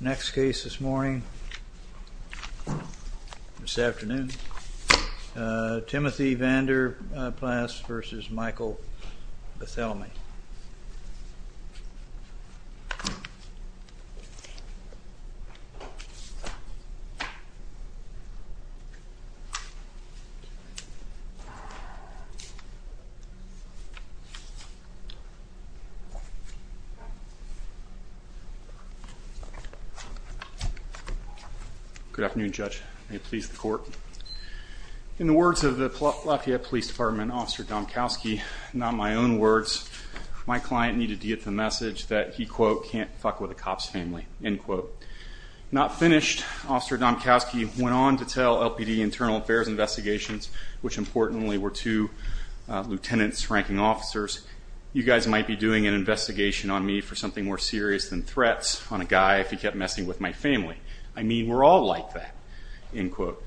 Next case this morning, this afternoon, Timothy Vander Plaats v. Michael Barthelemy. Good afternoon, Judge. May it please the Court. In the words of the Lafayette Police Department Officer Domkowski, not my own words, my client needed to get the message that he, quote, can't fuck with a cop's family, end quote. Not finished, Officer Domkowski went on to tell LPD Internal Affairs Investigations, which importantly were two lieutenant's ranking officers, you guys might be doing an investigation on me for something more serious than threats on a guy if he kept messing with my family. I mean, we're all like that, end quote.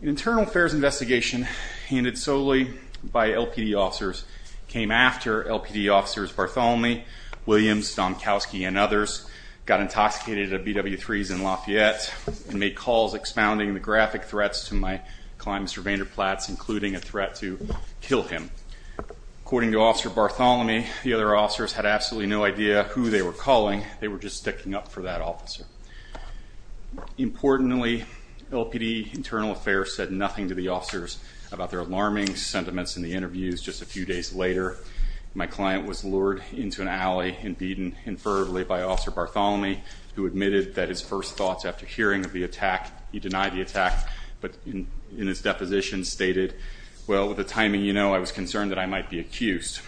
An Internal Affairs Investigation handed solely by LPD officers came after LPD officers Barthelemy, Williams, Domkowski, and others got intoxicated at a BW3s in Lafayette and made calls expounding the graphic threats to my client, Mr. Vander Plaats, including a threat to kill him. According to Officer Barthelemy, the other officers had absolutely no idea who they were calling, they were just sticking up for that officer. Importantly, LPD Internal Affairs said nothing to the officers about their alarming sentiments in the interviews just a few days later. My client was lured into an alley and beaten infertilely by Officer Barthelemy, who admitted that his first thoughts after hearing of the attack, he denied the attack, but in his deposition stated, well, with the timing you know, I was concerned that I might be accused.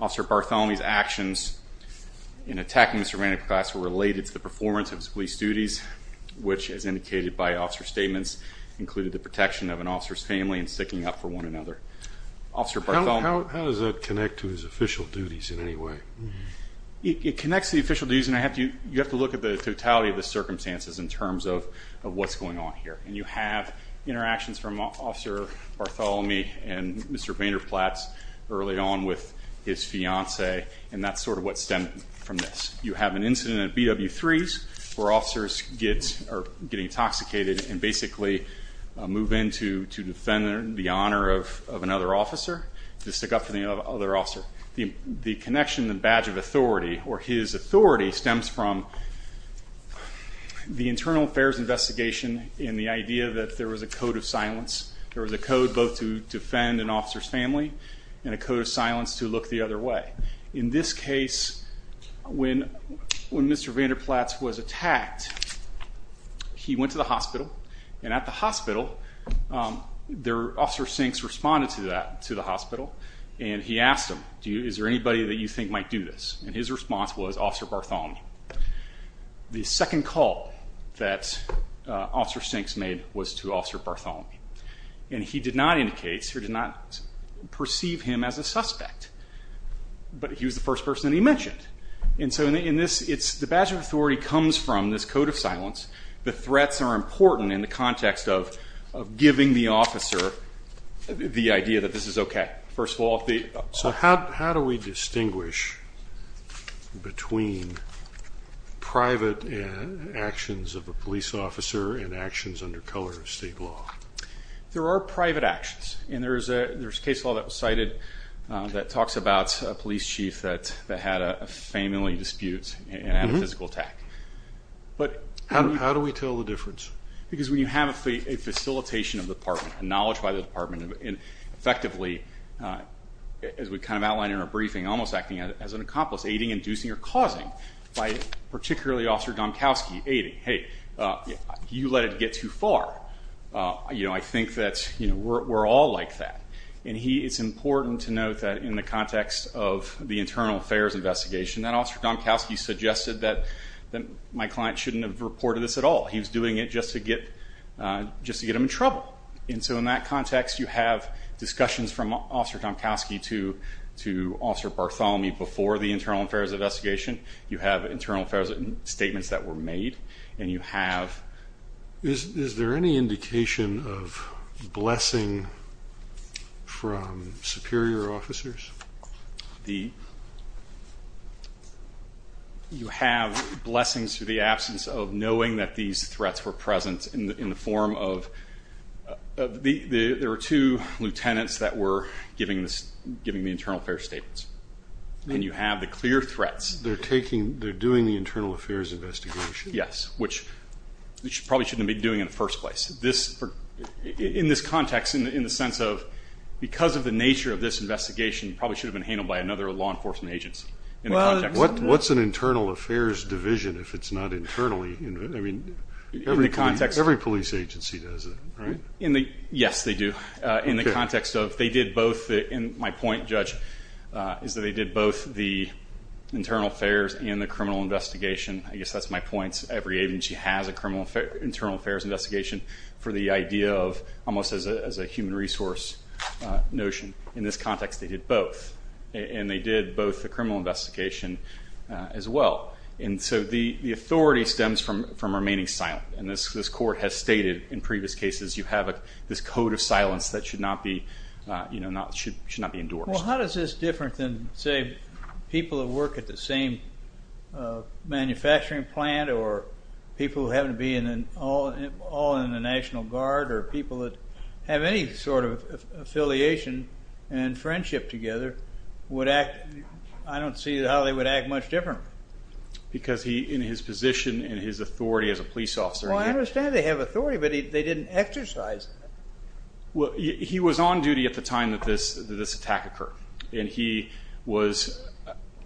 Officer Barthelemy's actions in attacking Mr. Vander Plaats were related to the performance of his police duties, which, as indicated by officer statements, included the protection of an officer's family and sticking up for one another. How does that connect to his official duties in any way? It connects to the official duties, and you have to look at the totality of the circumstances in terms of what's going on here. And you have interactions from Officer Barthelemy and Mr. Vander Plaats early on with his fiancée, and that's sort of what stemmed from this. You have an incident at BW3s where officers get intoxicated and basically move in to defend the honor of another officer, to stick up for the other officer. The connection, the badge of authority, or his authority, stems from the internal affairs investigation and the idea that there was a code of silence. There was a code both to defend an officer's family and a code of silence to look the other way. In this case, when Mr. Vander Plaats was attacked, he went to the hospital, and at the hospital, Officer Sinks responded to that, to the hospital, and he asked him, is there anybody that you think might do this? And his response was Officer Barthelemy. The second call that Officer Sinks made was to Officer Barthelemy, and he did not indicate or did not perceive him as a suspect, but he was the first person that he mentioned. And so the badge of authority comes from this code of silence. The threats are important in the context of giving the officer the idea that this is okay. First of all, the... So how do we distinguish between private actions of a police officer and actions under color of state law? There are private actions, and there's a case law that was cited that talks about a police chief that had a family dispute and had a physical attack. How do we tell the difference? Because when you have a facilitation of the department, a knowledge by the department, and effectively, as we kind of outlined in our briefing, almost acting as an accomplice, aiding, inducing, or causing, by particularly Officer Domkowski, aiding, hey, you let it get too far. You know, I think that we're all like that. And it's important to note that in the context of the internal affairs investigation, that Officer Domkowski suggested that my client shouldn't have reported this at all. He was doing it just to get them in trouble. And so in that context, you have discussions from Officer Domkowski to Officer Bartholomew before the internal affairs investigation. You have internal affairs statements that were made, and you have... Is there any indication of blessing from superior officers? You have blessings through the absence of knowing that these threats were present in the form of... There were two lieutenants that were giving the internal affairs statements. And you have the clear threats. They're doing the internal affairs investigation? Yes, which they probably shouldn't have been doing in the first place. In this context, in the sense of because of the nature of this investigation, it probably should have been handled by another law enforcement agency. What's an internal affairs division if it's not internally? I mean, every police agency does it, right? Yes, they do. In the context of they did both. And my point, Judge, is that they did both the internal affairs and the criminal investigation. I guess that's my point. Every agency has an internal affairs investigation for the idea of almost as a human resource notion. In this context, they did both. And they did both the criminal investigation as well. And so the authority stems from remaining silent. And this court has stated in previous cases you have this code of silence that should not be endorsed. Well, how is this different than, say, people who work at the same manufacturing plant or people who happen to be all in the National Guard or people that have any sort of affiliation and friendship together would act? I don't see how they would act much differently. Because in his position and his authority as a police officer. Well, I understand they have authority, but they didn't exercise it. Well, he was on duty at the time that this attack occurred. And he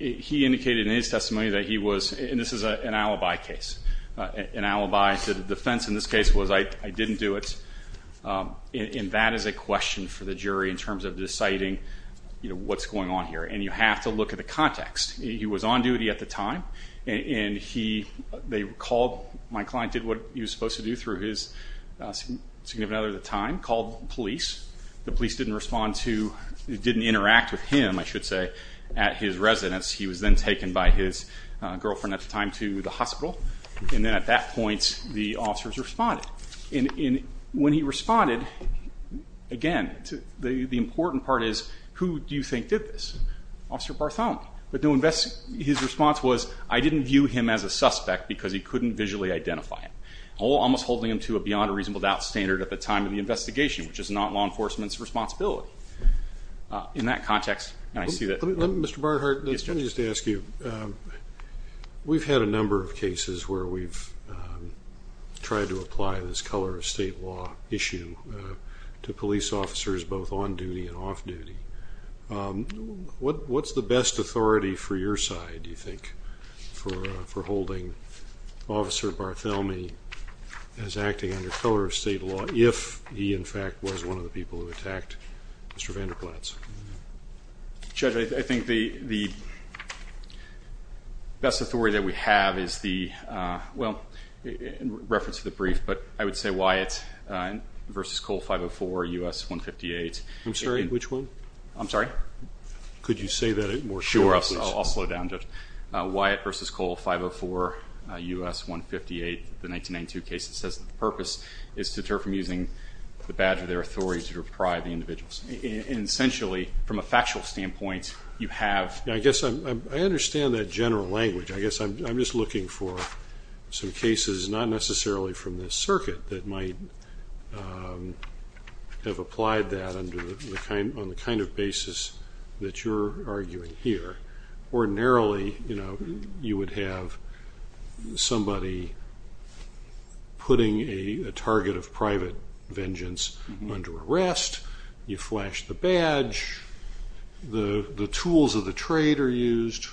indicated in his testimony that he was, and this is an alibi case, an alibi to the defense in this case was I didn't do it. And that is a question for the jury in terms of deciding what's going on here. And you have to look at the context. He was on duty at the time, and they called. My client did what he was supposed to do through his significant other at the time, called police. The police didn't respond to, didn't interact with him, I should say, at his residence. He was then taken by his girlfriend at the time to the hospital. And then at that point the officers responded. And when he responded, again, the important part is who do you think did this? Officer Bartholomew. His response was I didn't view him as a suspect because he couldn't visually identify him. Almost holding him to a beyond a reasonable doubt standard at the time of the investigation, which is not law enforcement's responsibility. In that context, I see that. Mr. Barnhart, let me just ask you. We've had a number of cases where we've tried to apply this color of state law issue to police officers, both on duty and off duty. What's the best authority for your side, do you think, for holding Officer Bartholomew as acting under color of state law if he, in fact, was one of the people who attacked Mr. Vander Plaats? Judge, I think the best authority that we have is the, well, in reference to the brief, but I would say Wyatt v. Cole 504, U.S. 158. I'm sorry, which one? I'm sorry? Could you say that more clearly, please? Sure. I'll slow down, Judge. Wyatt v. Cole 504, U.S. 158, the 1992 case that says the purpose is to deter from using the badge of their authority to deprive the individuals. And essentially, from a factual standpoint, you have. I guess I understand that general language. I guess I'm just looking for some cases, not necessarily from the circuit, that might have applied that on the kind of basis that you're arguing here. Ordinarily, you would have somebody putting a target of private vengeance under arrest. You flash the badge. The tools of the trade are used.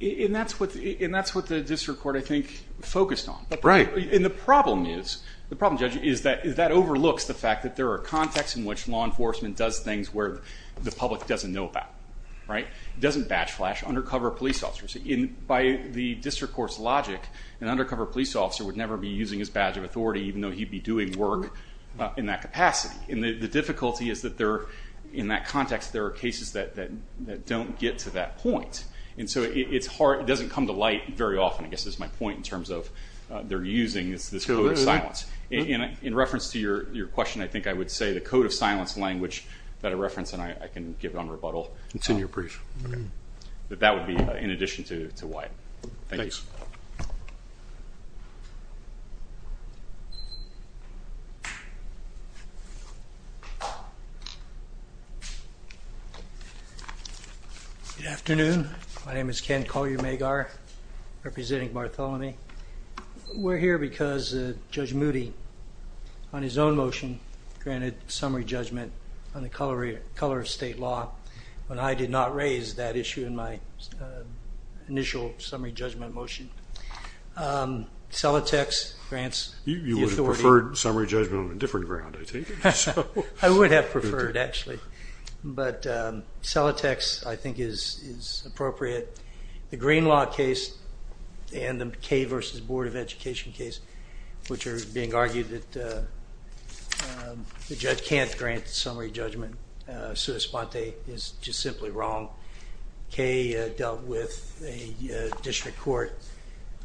And that's what the district court, I think, focused on. Right. And the problem is, the problem, Judge, is that that overlooks the fact that there are contexts in which law enforcement does things where the public doesn't know about. Right? It doesn't badge flash undercover police officers. By the district court's logic, an undercover police officer would never be using his badge of authority, even though he'd be doing work in that capacity. And the difficulty is that in that context, there are cases that don't get to that point. And so it's hard. It doesn't come to light very often, I guess, is my point in terms of they're using this code of silence. In reference to your question, I think I would say the code of silence language, that I referenced, and I can give it on rebuttal. It's in your brief. That would be in addition to Wyatt. Thanks. Thanks. Good afternoon. My name is Ken Collier-Magar, representing Bartholomew. We're here because Judge Moody, on his own motion, granted summary judgment on the color of state law, but I did not raise that issue in my initial summary judgment motion. Celotex grants the authority. You would have preferred summary judgment on a different ground, I take it. I would have preferred, actually. But Celotex, I think, is appropriate. The Green Law case and the K versus Board of Education case, which are being argued that the judge can't grant summary judgment, is just simply wrong. K dealt with a district court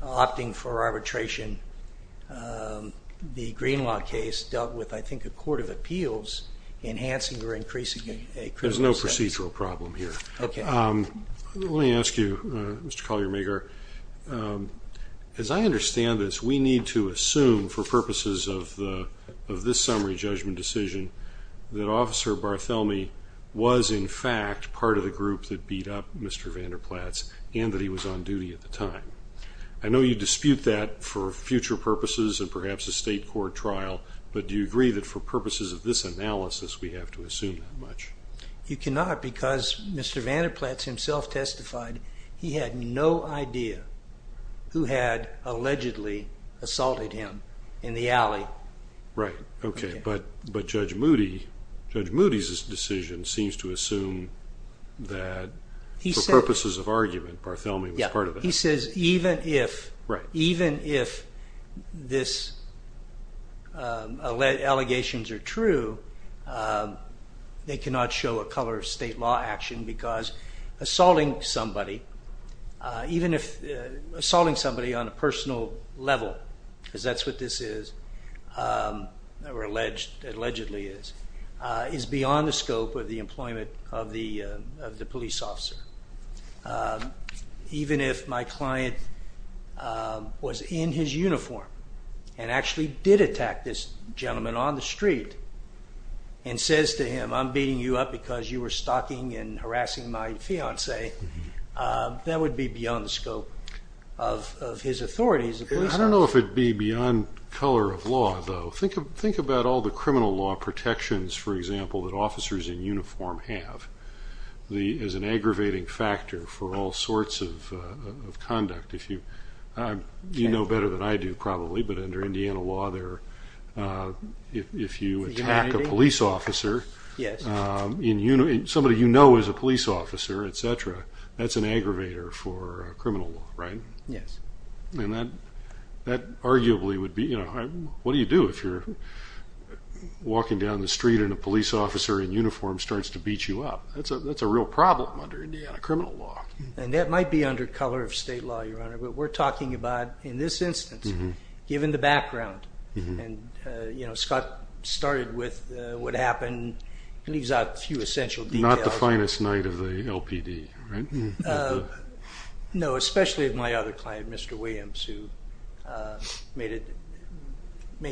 opting for arbitration. The Green Law case dealt with, I think, a court of appeals enhancing or increasing a criminal sentence. There's no procedural problem here. Let me ask you, Mr. Collier-Magar, as I understand this, we need to assume, for purposes of this summary judgment decision, that Officer Bartholomew was, in fact, part of the group that beat up Mr. Vander Plaats and that he was on duty at the time. I know you dispute that for future purposes and perhaps a state court trial, but do you agree that for purposes of this analysis we have to assume that much? You cannot, because Mr. Vander Plaats himself testified he had no idea who had allegedly assaulted him in the alley. Right. Okay. But Judge Moody's decision seems to assume that, for purposes of argument, Bartholomew was part of that. Yeah. He says even if these allegations are true, they cannot show a color of state law action because assaulting somebody, even if assaulting somebody on a personal level, because that's what this is, or allegedly is, is beyond the scope of the employment of the police officer. Even if my client was in his uniform and actually did attack this gentleman on the street and says to him, I'm beating you up because you were stalking and harassing my fiancee, that would be beyond the scope of his authority as a police officer. I don't know if it would be beyond color of law, though. Think about all the criminal law protections, for example, that officers in uniform have as an aggravating factor for all sorts of conduct. You know better than I do, probably, but under Indiana law, if you attack a police officer, somebody you know is a police officer, etc., that's an aggravator for criminal law, right? Yes. And that arguably would be, what do you do if you're walking down the street and a police officer in uniform starts to beat you up? That's a real problem under Indiana criminal law. And that might be under color of state law, Your Honor, but we're talking about, in this instance, given the background, and Scott started with what happened, leaves out a few essential details. Not the finest night of the LPD, right? No, especially of my other client, Mr. Williams, who made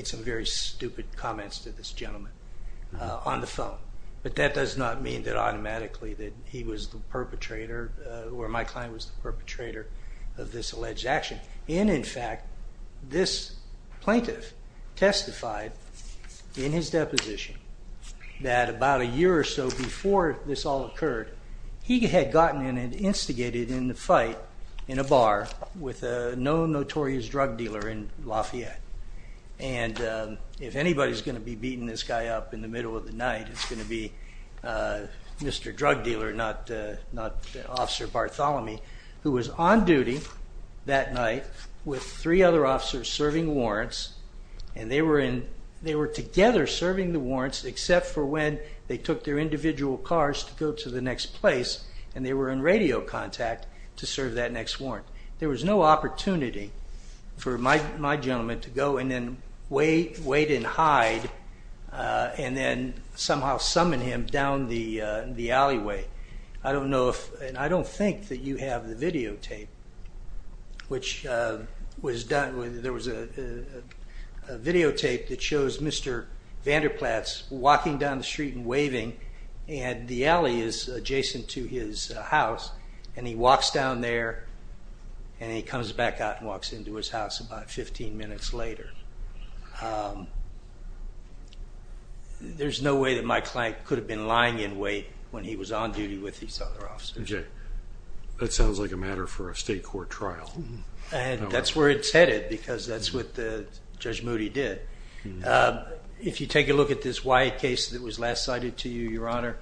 some very stupid comments to this gentleman on the phone. But that does not mean that automatically that he was the perpetrator or my client was the perpetrator of this alleged action. And, in fact, this plaintiff testified in his deposition that about a year or so before this all occurred, he had gotten in and instigated a fight in a bar with a known notorious drug dealer in Lafayette. And if anybody's going to be beating this guy up in the middle of the night, it's going to be Mr. Drug Dealer, not Officer Bartholomew, who was on duty that night with three other officers serving warrants, and they were together serving the warrants except for when they took their individual cars to go to the next place, and they were in radio contact to serve that next warrant. There was no opportunity for my gentleman to go and then wait and hide and then somehow summon him down the alleyway. I don't know if, and I don't think that you have the videotape, which was done, there was a videotape that shows Mr. Vander Plaats walking down the street and waving, and the alley is adjacent to his house, and he walks down there, and he comes back out and walks into his house about 15 minutes later. There's no way that my client could have been lying in wait when he was on duty with these other officers. That sounds like a matter for a state court trial. That's where it's headed because that's what Judge Moody did. If you take a look at this Wyatt case that was last cited to you, Your Honor,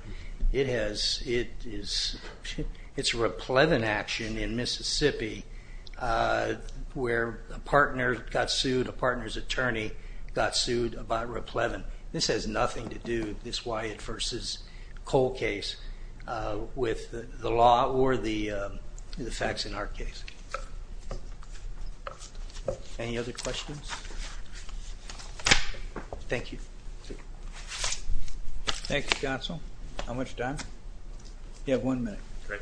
it's a Raplevin action in Mississippi where a partner got sued, a partner's attorney got sued by Raplevin. This has nothing to do, this Wyatt v. Cole case, with the law or the facts in our case. Any other questions? Thank you. Thank you, Counsel. How much time? You have one minute. Thank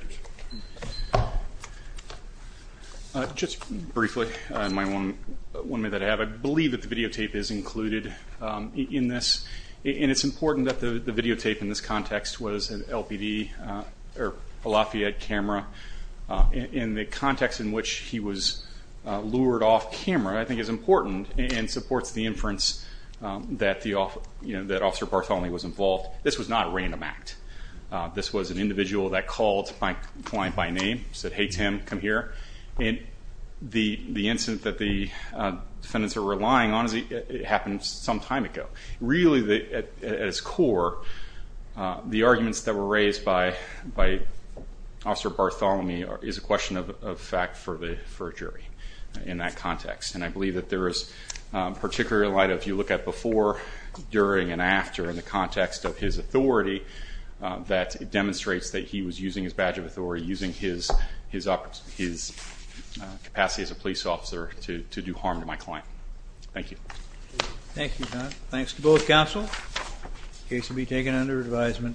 you, sir. Just briefly, I might want to make that a habit. I believe that the videotape is included in this, and it's important that the videotape in this context was an LPD or a Lafayette camera. And the context in which he was lured off camera I think is important and supports the inference that Officer Bartholomew was involved. This was not a random act. This was an individual that called my client by name, said, hey, Tim, come here. And the incident that the defendants are relying on happened some time ago. Really, at its core, the arguments that were raised by Officer Bartholomew And I believe that there is particular light, if you look at before, during, and after, in the context of his authority, that demonstrates that he was using his badge of authority, using his capacity as a police officer to do harm to my client. Thank you. Thank you, John. Thanks to both counsel. The case will be taken under advisement.